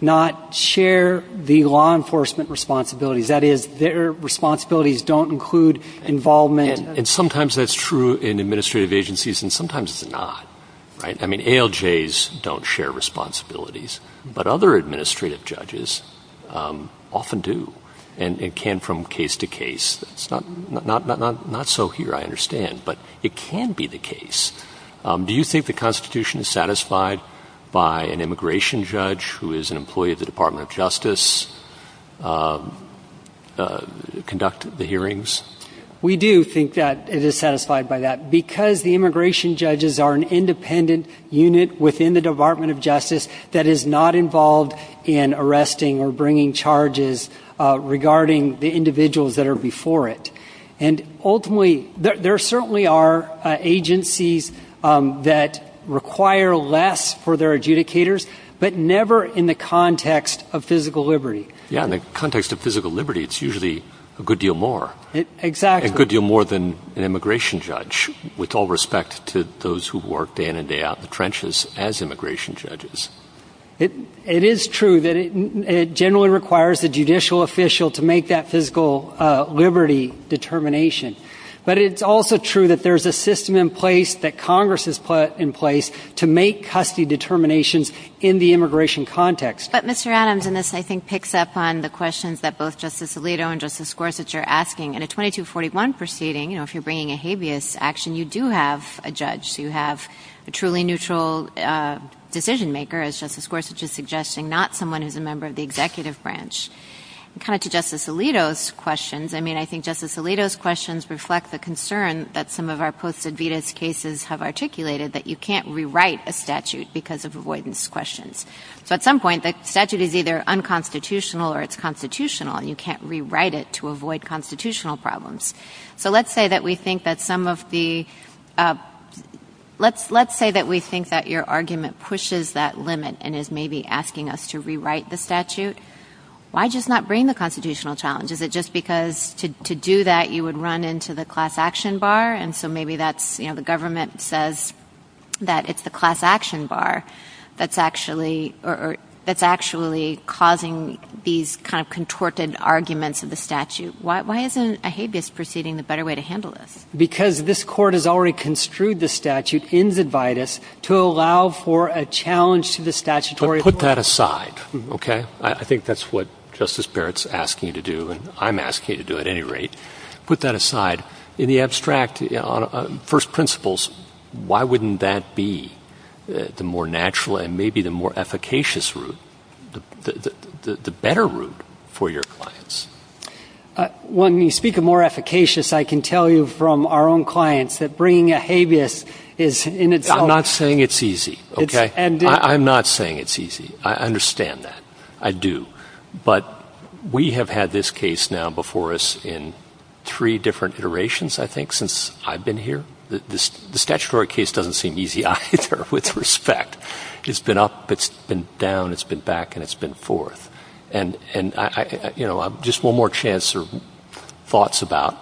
not share the law enforcement responsibilities. That is, their responsibilities don't include involvement. And sometimes that's true in administrative agencies and sometimes it's not, right? I mean, ALJs don't share responsibilities, but other administrative judges often do and can from case to case. It's not so here, I understand, but it can be the case. Do you think the Constitution is satisfied by an immigration judge who is an employee of the Department of Justice conduct the hearings? We do think that it is satisfied by that, because the immigration judges are an independent unit within the Department of Justice that is not involved in arresting or bringing charges regarding the individuals that are before it. And ultimately, there certainly are agencies that require less for their adjudicators, but never in the context of physical liberty. Yeah, in the context of physical liberty, it's usually a good deal more. Exactly. A good deal more than an immigration judge, with all respect to those who work day in and day out in the trenches as immigration judges. It is true that it generally requires the judicial official to make that physical liberty determination. But it's also true that there's a system in place that Congress has put in place to make custody determinations in the immigration context. But, Mr. Adams, and this I think picks up on the questions that both Justice Alito and Justice Gorsuch are asking, in a 2241 proceeding, you know, if you're bringing a habeas action, you do have a judge. You have a truly neutral decision-maker, as Justice Gorsuch is suggesting, not someone who's a member of the executive branch. And kind of to Justice Alito's questions, I mean, I think Justice Alito's questions reflect the concern that some of our posted VITAS cases have articulated that you can't rewrite a statute because of avoidance questions. So at some point, the statute is either unconstitutional or it's constitutional, and you can't rewrite it to avoid constitutional problems. So let's say that we think that some of the, let's say that we think that your argument pushes that limit and is maybe asking us to rewrite the statute. Why just not bring the constitutional challenge? Is it just because to do that, you would run into the class action bar? And so maybe that's, you know, the government says that it's the class action bar that's actually causing these kind of contorted arguments of the statute. Why isn't a habeas proceeding the better way to handle this? Because this Court has already construed the statute in the VITAS to allow for a challenge to the statutory order. But put that aside, okay? I think that's what Justice Barrett's asking you to do, and I'm asking you to do at any rate. Put that aside. In the abstract, on first principles, why wouldn't that be the more natural and maybe the more efficacious route, the better route for your clients? When you speak of more efficacious, I can tell you from our own clients that bringing a habeas is in its own. I'm not saying it's easy, okay? I'm not saying it's easy. I understand that. I do. But we have had this case now before us in three different iterations, I think, since I've been here. The statutory case doesn't seem easy either, with respect. It's been up, it's been down, it's been back, and it's been forth. And, you know, just one more chance for thoughts about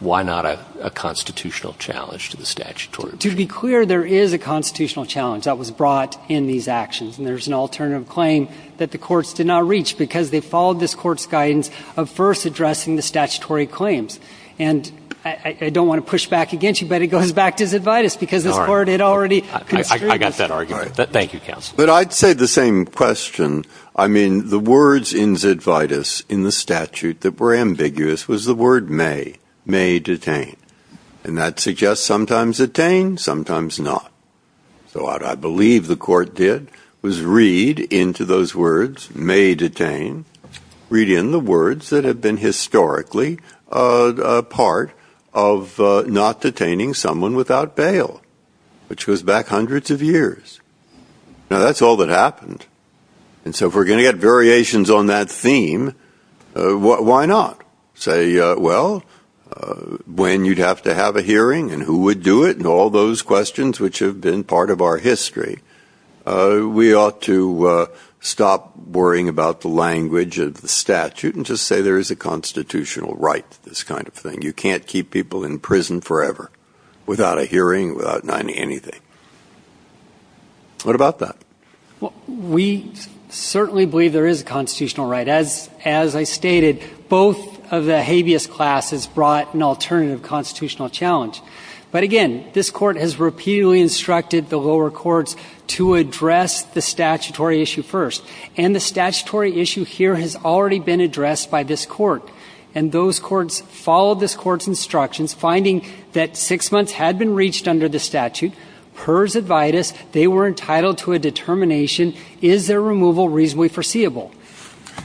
why not a constitutional challenge to the statutory? To be clear, there is a constitutional challenge that was brought in these actions, and there's an alternative claim that the courts did not reach because they followed this court's guidance of first addressing the statutory claims. And I don't want to push back against you, but it goes back to the VITAS because this Court had already construed it. I got that argument. Thank you, counsel. But I'd say the same question. I mean, the words in ZIT VITAS in the statute that were ambiguous was the word may, may detain. And that suggests sometimes attain, sometimes not. So what I believe the court did was read into those words may detain, read in the words that have been historically a part of not detaining someone without bail, which goes back hundreds of years. Now, that's all that happened. And so if we're going to get variations on that theme, why not say, well, when you'd have to have a hearing and who would do it and all those questions which have been part of our history, we ought to stop worrying about the language of the statute and just say there is a constitutional right to this kind of thing. You can't keep people in prison forever without a hearing, without anything. What about that? Well, we certainly believe there is a constitutional right. As I stated, both of the habeas classes brought an alternative constitutional challenge. But, again, this Court has repeatedly instructed the lower courts to address the statutory issue first. And the statutory issue here has already been addressed by this Court. And those courts followed this Court's instructions, finding that six months had been reached under the statute. PERS advidis, they were entitled to a determination, is their removal reasonably foreseeable?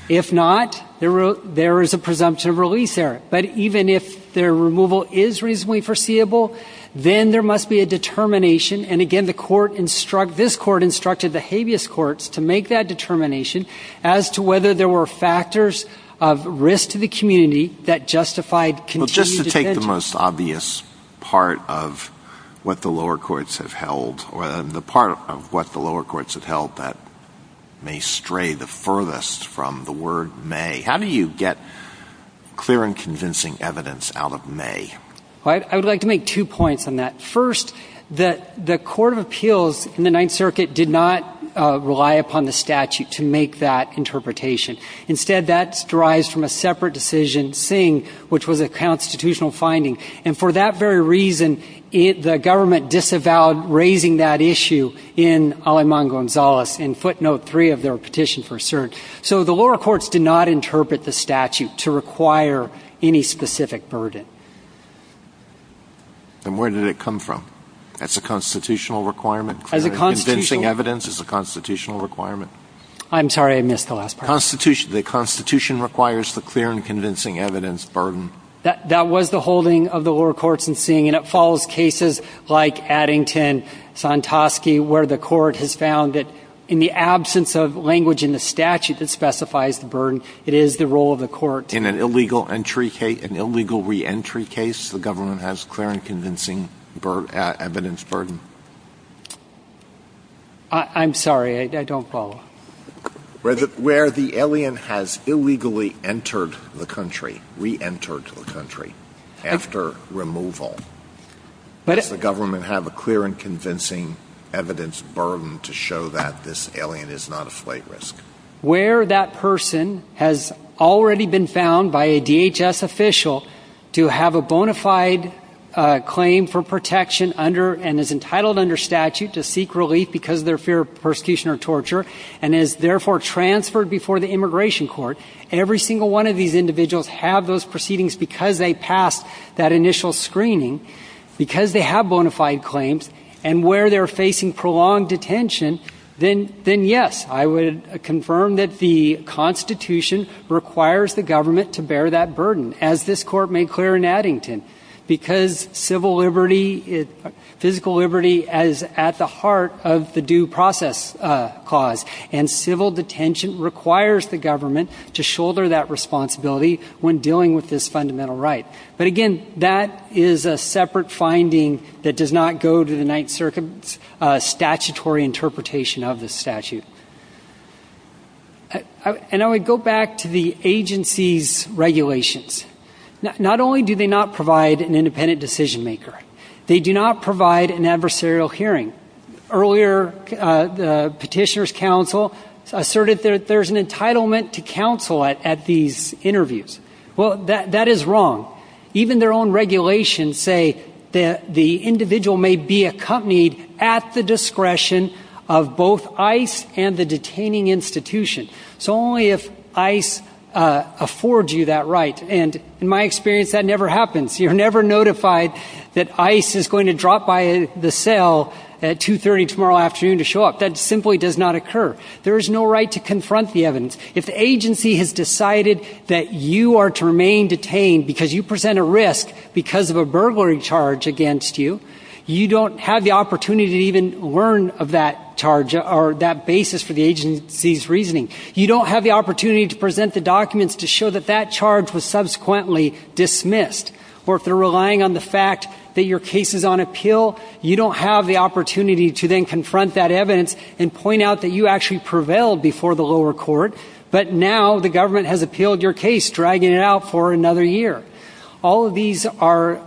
If not, there is a presumption of release there. But even if their removal is reasonably foreseeable, then there must be a determination. And, again, this Court instructed the habeas courts to make that determination as to whether there were factors of risk to the community that justified continued detention. Well, just to take the most obvious part of what the lower courts have held, or the part of what the lower courts have held that may stray the furthest from the word may, how do you get clear and convincing evidence out of may? I would like to make two points on that. First, the Court of Appeals in the Ninth Circuit did not rely upon the statute to make that interpretation. Instead, that derives from a separate decision, Singh, which was a constitutional finding. And for that very reason, the government disavowed raising that issue in Aleman Gonzalez in footnote three of their petition for cert. So the lower courts did not interpret the statute to require any specific burden. And where did it come from? As a constitutional requirement? As a constitutional requirement. Clear and convincing evidence is a constitutional requirement. I'm sorry. I missed the last part. The Constitution requires the clear and convincing evidence burden. That was the holding of the lower courts in Singh. And it follows cases like Addington, Sontoski, where the Court has found that in the absence of language in the statute that specifies the burden, it is the role of the Court to do that. In an illegal reentry case, the government has clear and convincing evidence burden? I'm sorry. I don't follow. Where the alien has illegally entered the country, reentered the country after removal, does the government have a clear and convincing evidence burden to show that this alien is not a flight risk? Where that person has already been found by a DHS official to have a bona fide claim for protection and is entitled under statute to seek relief because of their fear of persecution or torture and is therefore transferred before the immigration court, every single one of these individuals have those proceedings because they passed that initial screening, because they have bona fide claims, and where they're facing prolonged detention, then yes, I would confirm that the Constitution requires the government to bear that burden, as this Court made clear in Addington, because civil liberty, physical liberty is at the heart of the due process clause, and civil detention requires the government to shoulder that responsibility when dealing with this fundamental right. But again, that is a separate finding that does not go to the Ninth Circuit's statutory interpretation of the statute. And I would go back to the agency's regulations. Not only do they not provide an independent decision maker, they do not provide an adversarial hearing. Earlier, the petitioner's counsel asserted that there's an entitlement to counsel at these interviews. Well, that is wrong. Even their own regulations say that the individual may be accompanied at the discretion of both ICE and the detaining institution. So only if ICE affords you that right, and in my experience, that never happens. You're never notified that ICE is going to drop by the cell at 2.30 tomorrow afternoon to show up. That simply does not occur. There is no right to confront the evidence. If the agency has decided that you are to remain detained because you present a risk because of a burglary charge against you, you don't have the opportunity to even learn of that charge or that basis for the agency's reasoning. You don't have the opportunity to present the documents to show that that charge was subsequently dismissed. Or if they're relying on the fact that your case is on appeal, you don't have the opportunity to then confront that evidence and point out that you actually prevailed before the lower court, but now the government has appealed your case, dragging it out for another year. All of these are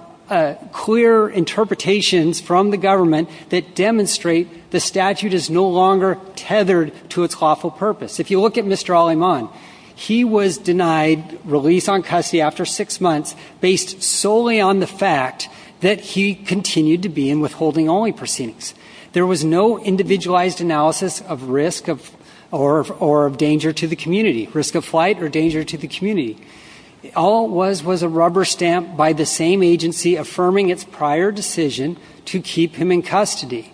clear interpretations from the government that demonstrate the statute is no longer tethered to its lawful purpose. If you look at Mr. Aleman, he was denied release on custody after six months based solely on the fact that he continued to be in withholding-only proceedings. There was no individualized analysis of risk or of danger to the community, risk of flight or danger to the community. All was a rubber stamp by the same agency affirming its prior decision to keep him in custody.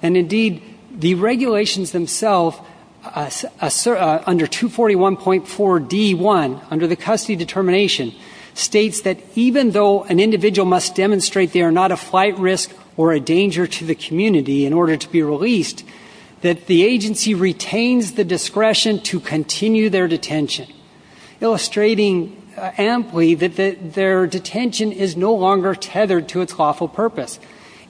And indeed, the regulations themselves under 241.4D1, under the custody determination, states that even though an individual must demonstrate they are not a flight risk or a danger to the community in order to be released, that the agency retains the discretion to continue their detention, illustrating amply that their detention is no longer tethered to its lawful purpose.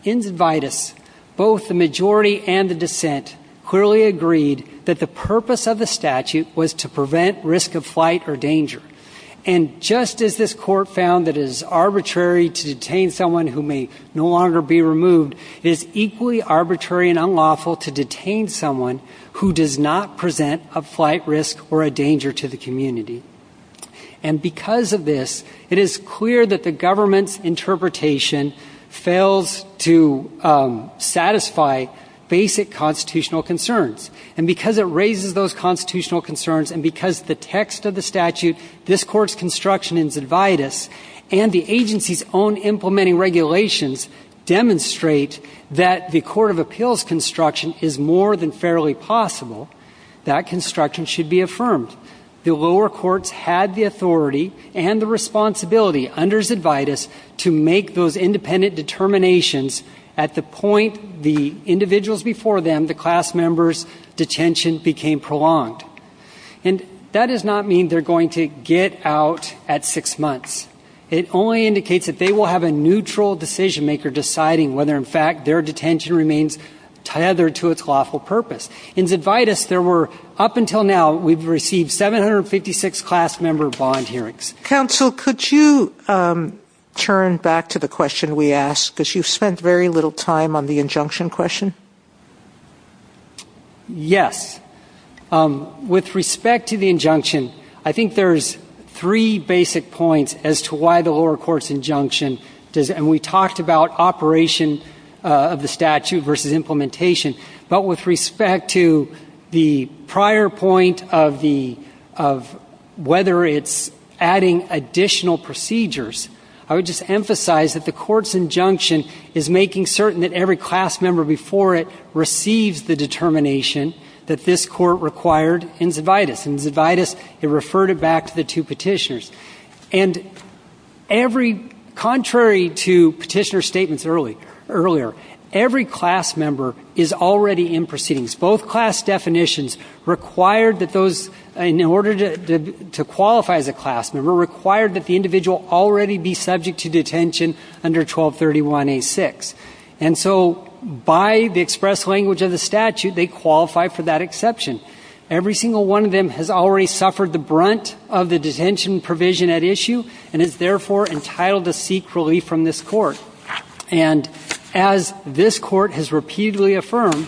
In vitis, both the majority and the dissent clearly agreed that the purpose of the statute was to prevent risk of flight or danger. And just as this court found that it is arbitrary to detain someone who may no longer be removed, it is equally arbitrary and unlawful to detain someone who does not present a flight risk or a danger to the community. And because of this, it is clear that the government's interpretation fails to satisfy basic constitutional concerns. And because it raises those constitutional concerns and because the text of the statute, this court's construction in vitis, and the agency's own implementing regulations demonstrate that the court of appeals construction is more than fairly possible, that construction should be affirmed. The lower courts had the authority and the responsibility under vitis to make those independent determinations at the point the individuals before them, the class members, detention became prolonged. And that does not mean they're going to get out at six months. It only indicates that they will have a neutral decision maker deciding whether in fact their detention remains tethered to its lawful purpose. In vitis, there were, up until now, we've received 756 class member bond hearings. Counsel, could you turn back to the question we asked? Because you've spent very little time on the injunction question. Yes. With respect to the injunction, I think there's three basic points as to why the lower court's injunction, and we talked about operation of the statute versus implementation. But with respect to the prior point of whether it's adding additional procedures, I would just emphasize that the court's injunction is making certain that every class member before it receives the determination that this court required in vitis. In vitis, it referred it back to the two petitioners. And every, contrary to petitioner's statements earlier, every class member is already in proceedings. Both class definitions required that those, in order to qualify as a class member, required that the individual already be subject to detention under 1231A6. And so by the express language of the statute, they qualify for that exception. Every single one of them has already suffered the brunt of the detention provision at issue and is therefore entitled to seek relief from this court. And as this court has repeatedly affirmed,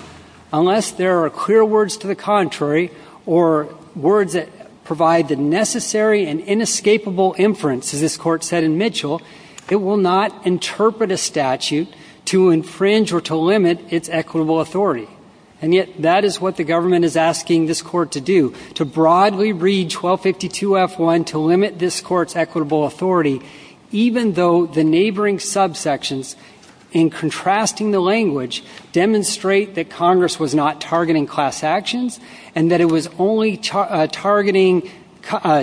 unless there are clear words to the contrary or words that provide the necessary and inescapable inference, as this court said in Mitchell, it will not interpret a statute to infringe or to limit its equitable authority. And yet that is what the government is asking this court to do, to broadly read 1252F1 to limit this court's equitable authority, even though the neighboring subsections, in contrasting the language, demonstrate that Congress was not targeting class actions and that it was only targeting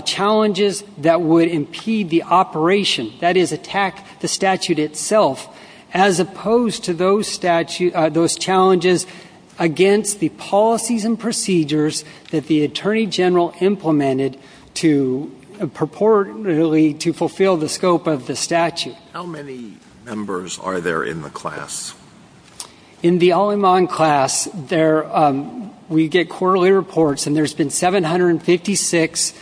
challenges that would impede the operation, that is, attack the statute itself, as opposed to those challenges against the policies and procedures that the Attorney General implemented purportedly to fulfill the scope of the statute. How many members are there in the class? In the Al-Aman class, we get quarterly reports, and there's been 756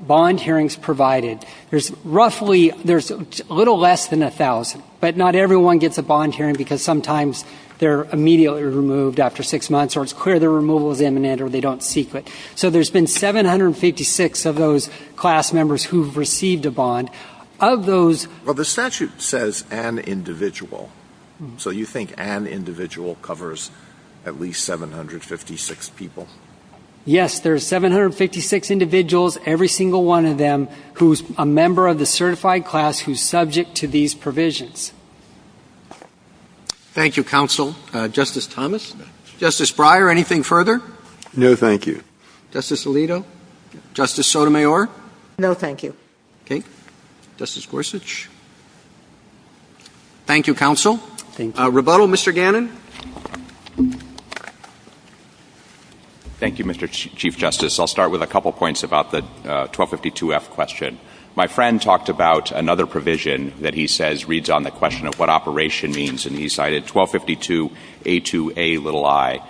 bond hearings provided. There's roughly ñ there's a little less than 1,000, but not everyone gets a bond hearing because sometimes they're immediately removed after six months or it's clear their removal is imminent or they don't seek it. So there's been 756 of those class members who've received a bond. Of those ñ Well, the statute says an individual, so you think an individual covers at least 756 people? Yes, there's 756 individuals, every single one of them, who's a member of the certified class who's subject to these provisions. Thank you, counsel. Justice Thomas. Justice Breyer, anything further? No, thank you. Justice Alito. Justice Sotomayor. No, thank you. Okay. Justice Gorsuch. Thank you, counsel. Thank you. Rebuttal, Mr. Gannon. Thank you, Mr. Chief Justice. I'll start with a couple points about the 1252F question. My friend talked about another provision that he says reads on the question of what operation means, and he cited 1252A2Ai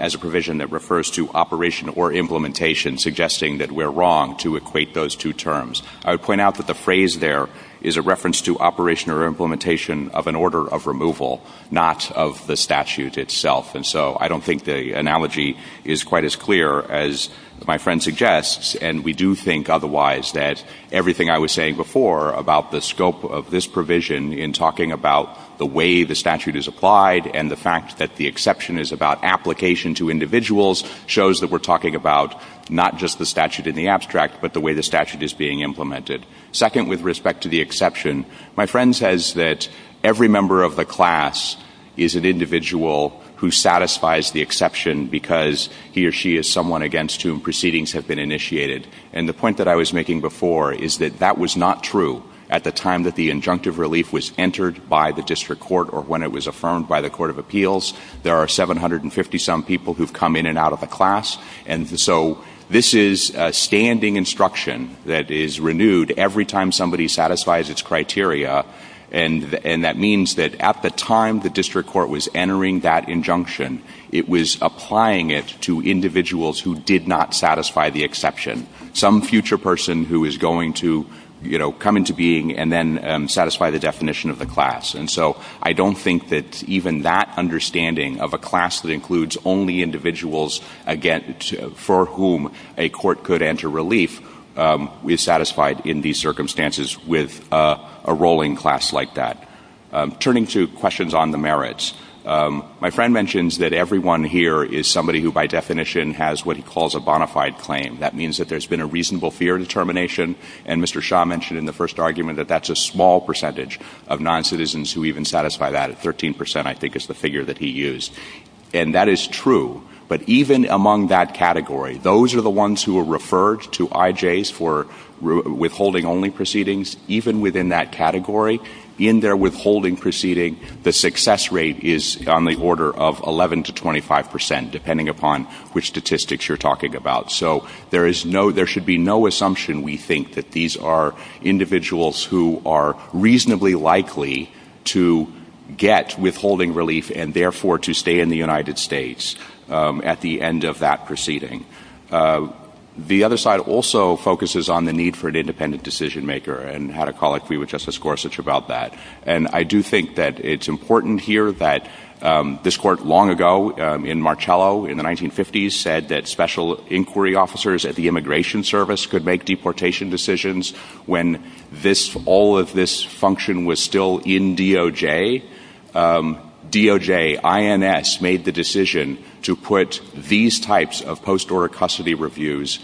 as a provision that refers to operation or implementation, suggesting that we're wrong to equate those two terms. I would point out that the phrase there is a reference to operation or implementation of an order of removal, not of the statute itself. And so I don't think the analogy is quite as clear as my friend suggests, and we do think otherwise that everything I was saying before about the scope of this provision in talking about the way the statute is applied and the fact that the exception is about application to individuals shows that we're talking about not just the statute in the abstract, but the way the statute is being implemented. Second, with respect to the exception, my friend says that every member of the class is an individual who satisfies the exception because he or she is someone against whom proceedings have been initiated. And the point that I was making before is that that was not true at the time that the injunctive relief was entered by the district court or when it was affirmed by the Court of Appeals. There are 750-some people who've come in and out of the class, and so this is a standing instruction that is renewed every time somebody satisfies its criteria, and that means that at the time the district court was entering that injunction, it was applying it to individuals who did not satisfy the exception, some future person who is going to come into being and then satisfy the definition of the class. And so I don't think that even that understanding of a class that includes only individuals for whom a court could enter relief is satisfied in these circumstances with a rolling class like that. Turning to questions on the merits, my friend mentions that everyone here is somebody who by definition has what he calls a bona fide claim. That means that there's been a reasonable fear determination, and Mr. Shah mentioned in the first argument that that's a small percentage of noncitizens who even satisfy that at 13 percent, I think is the figure that he used. And that is true, but even among that category, those are the ones who are referred to IJs for withholding only proceedings. Even within that category, in their withholding proceeding, the success rate is on the order of 11 to 25 percent, depending upon which statistics you're talking about. So there should be no assumption, we think, that these are individuals who are reasonably likely to get withholding relief and therefore to stay in the United States at the end of that proceeding. The other side also focuses on the need for an independent decision maker and had a colleague, Justice Gorsuch, about that. And I do think that it's important here that this court long ago in Marcello in the 1950s said that special inquiry officers at the Immigration Service could make deportation decisions when all of this function was still in DOJ. DOJ, INS, made the decision to put these types of post-order custody reviews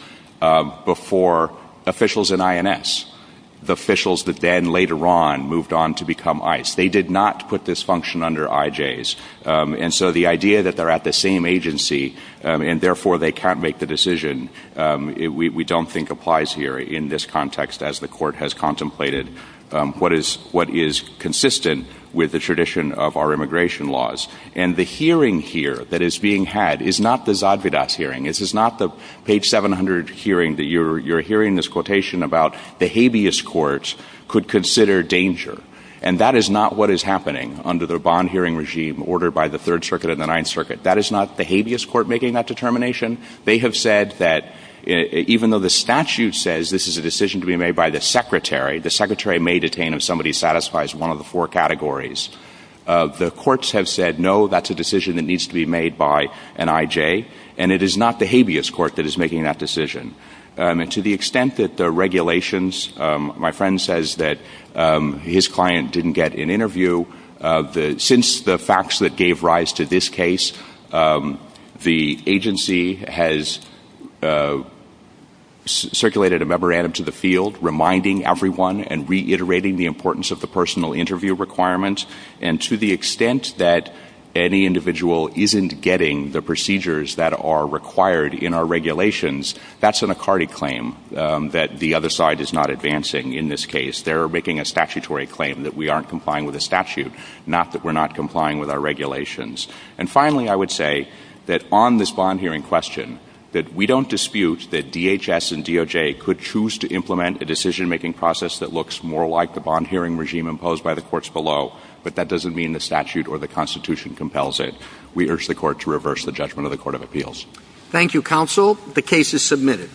before officials in INS, the officials that then later on moved on to become ICE. They did not put this function under IJs. And so the idea that they're at the same agency and therefore they can't make the decision, we don't think applies here in this context as the court has contemplated what is consistent with the tradition of our immigration laws. And the hearing here that is being had is not the Zadvydas hearing, this is not the page 700 hearing that you're hearing this quotation about the habeas court could consider danger. And that is not what is happening under the bond hearing regime ordered by the Third Circuit and the Ninth Circuit. That is not the habeas court making that determination. They have said that even though the statute says this is a decision to be made by the Secretary, the Secretary may detain if somebody satisfies one of the four categories. The courts have said no, that's a decision that needs to be made by an IJ, and it is not the habeas court that is making that decision. And to the extent that the regulations, my friend says that his client didn't get an interview, since the facts that gave rise to this case, the agency has circulated a memorandum to the field reminding everyone and reiterating the importance of the personal interview requirement. And to the extent that any individual isn't getting the procedures that are required in our regulations, that's an Acardi claim that the other side is not advancing in this case. They're making a statutory claim that we aren't complying with the statute, not that we're not complying with our regulations. And finally, I would say that on this bond hearing question, that we don't dispute that DHS and DOJ could choose to implement a decision-making process that looks more like the bond hearing regime imposed by the courts below, but that doesn't mean the statute or the Constitution compels it. We urge the court to reverse the judgment of the Court of Appeals. Thank you, Counsel. The case is submitted.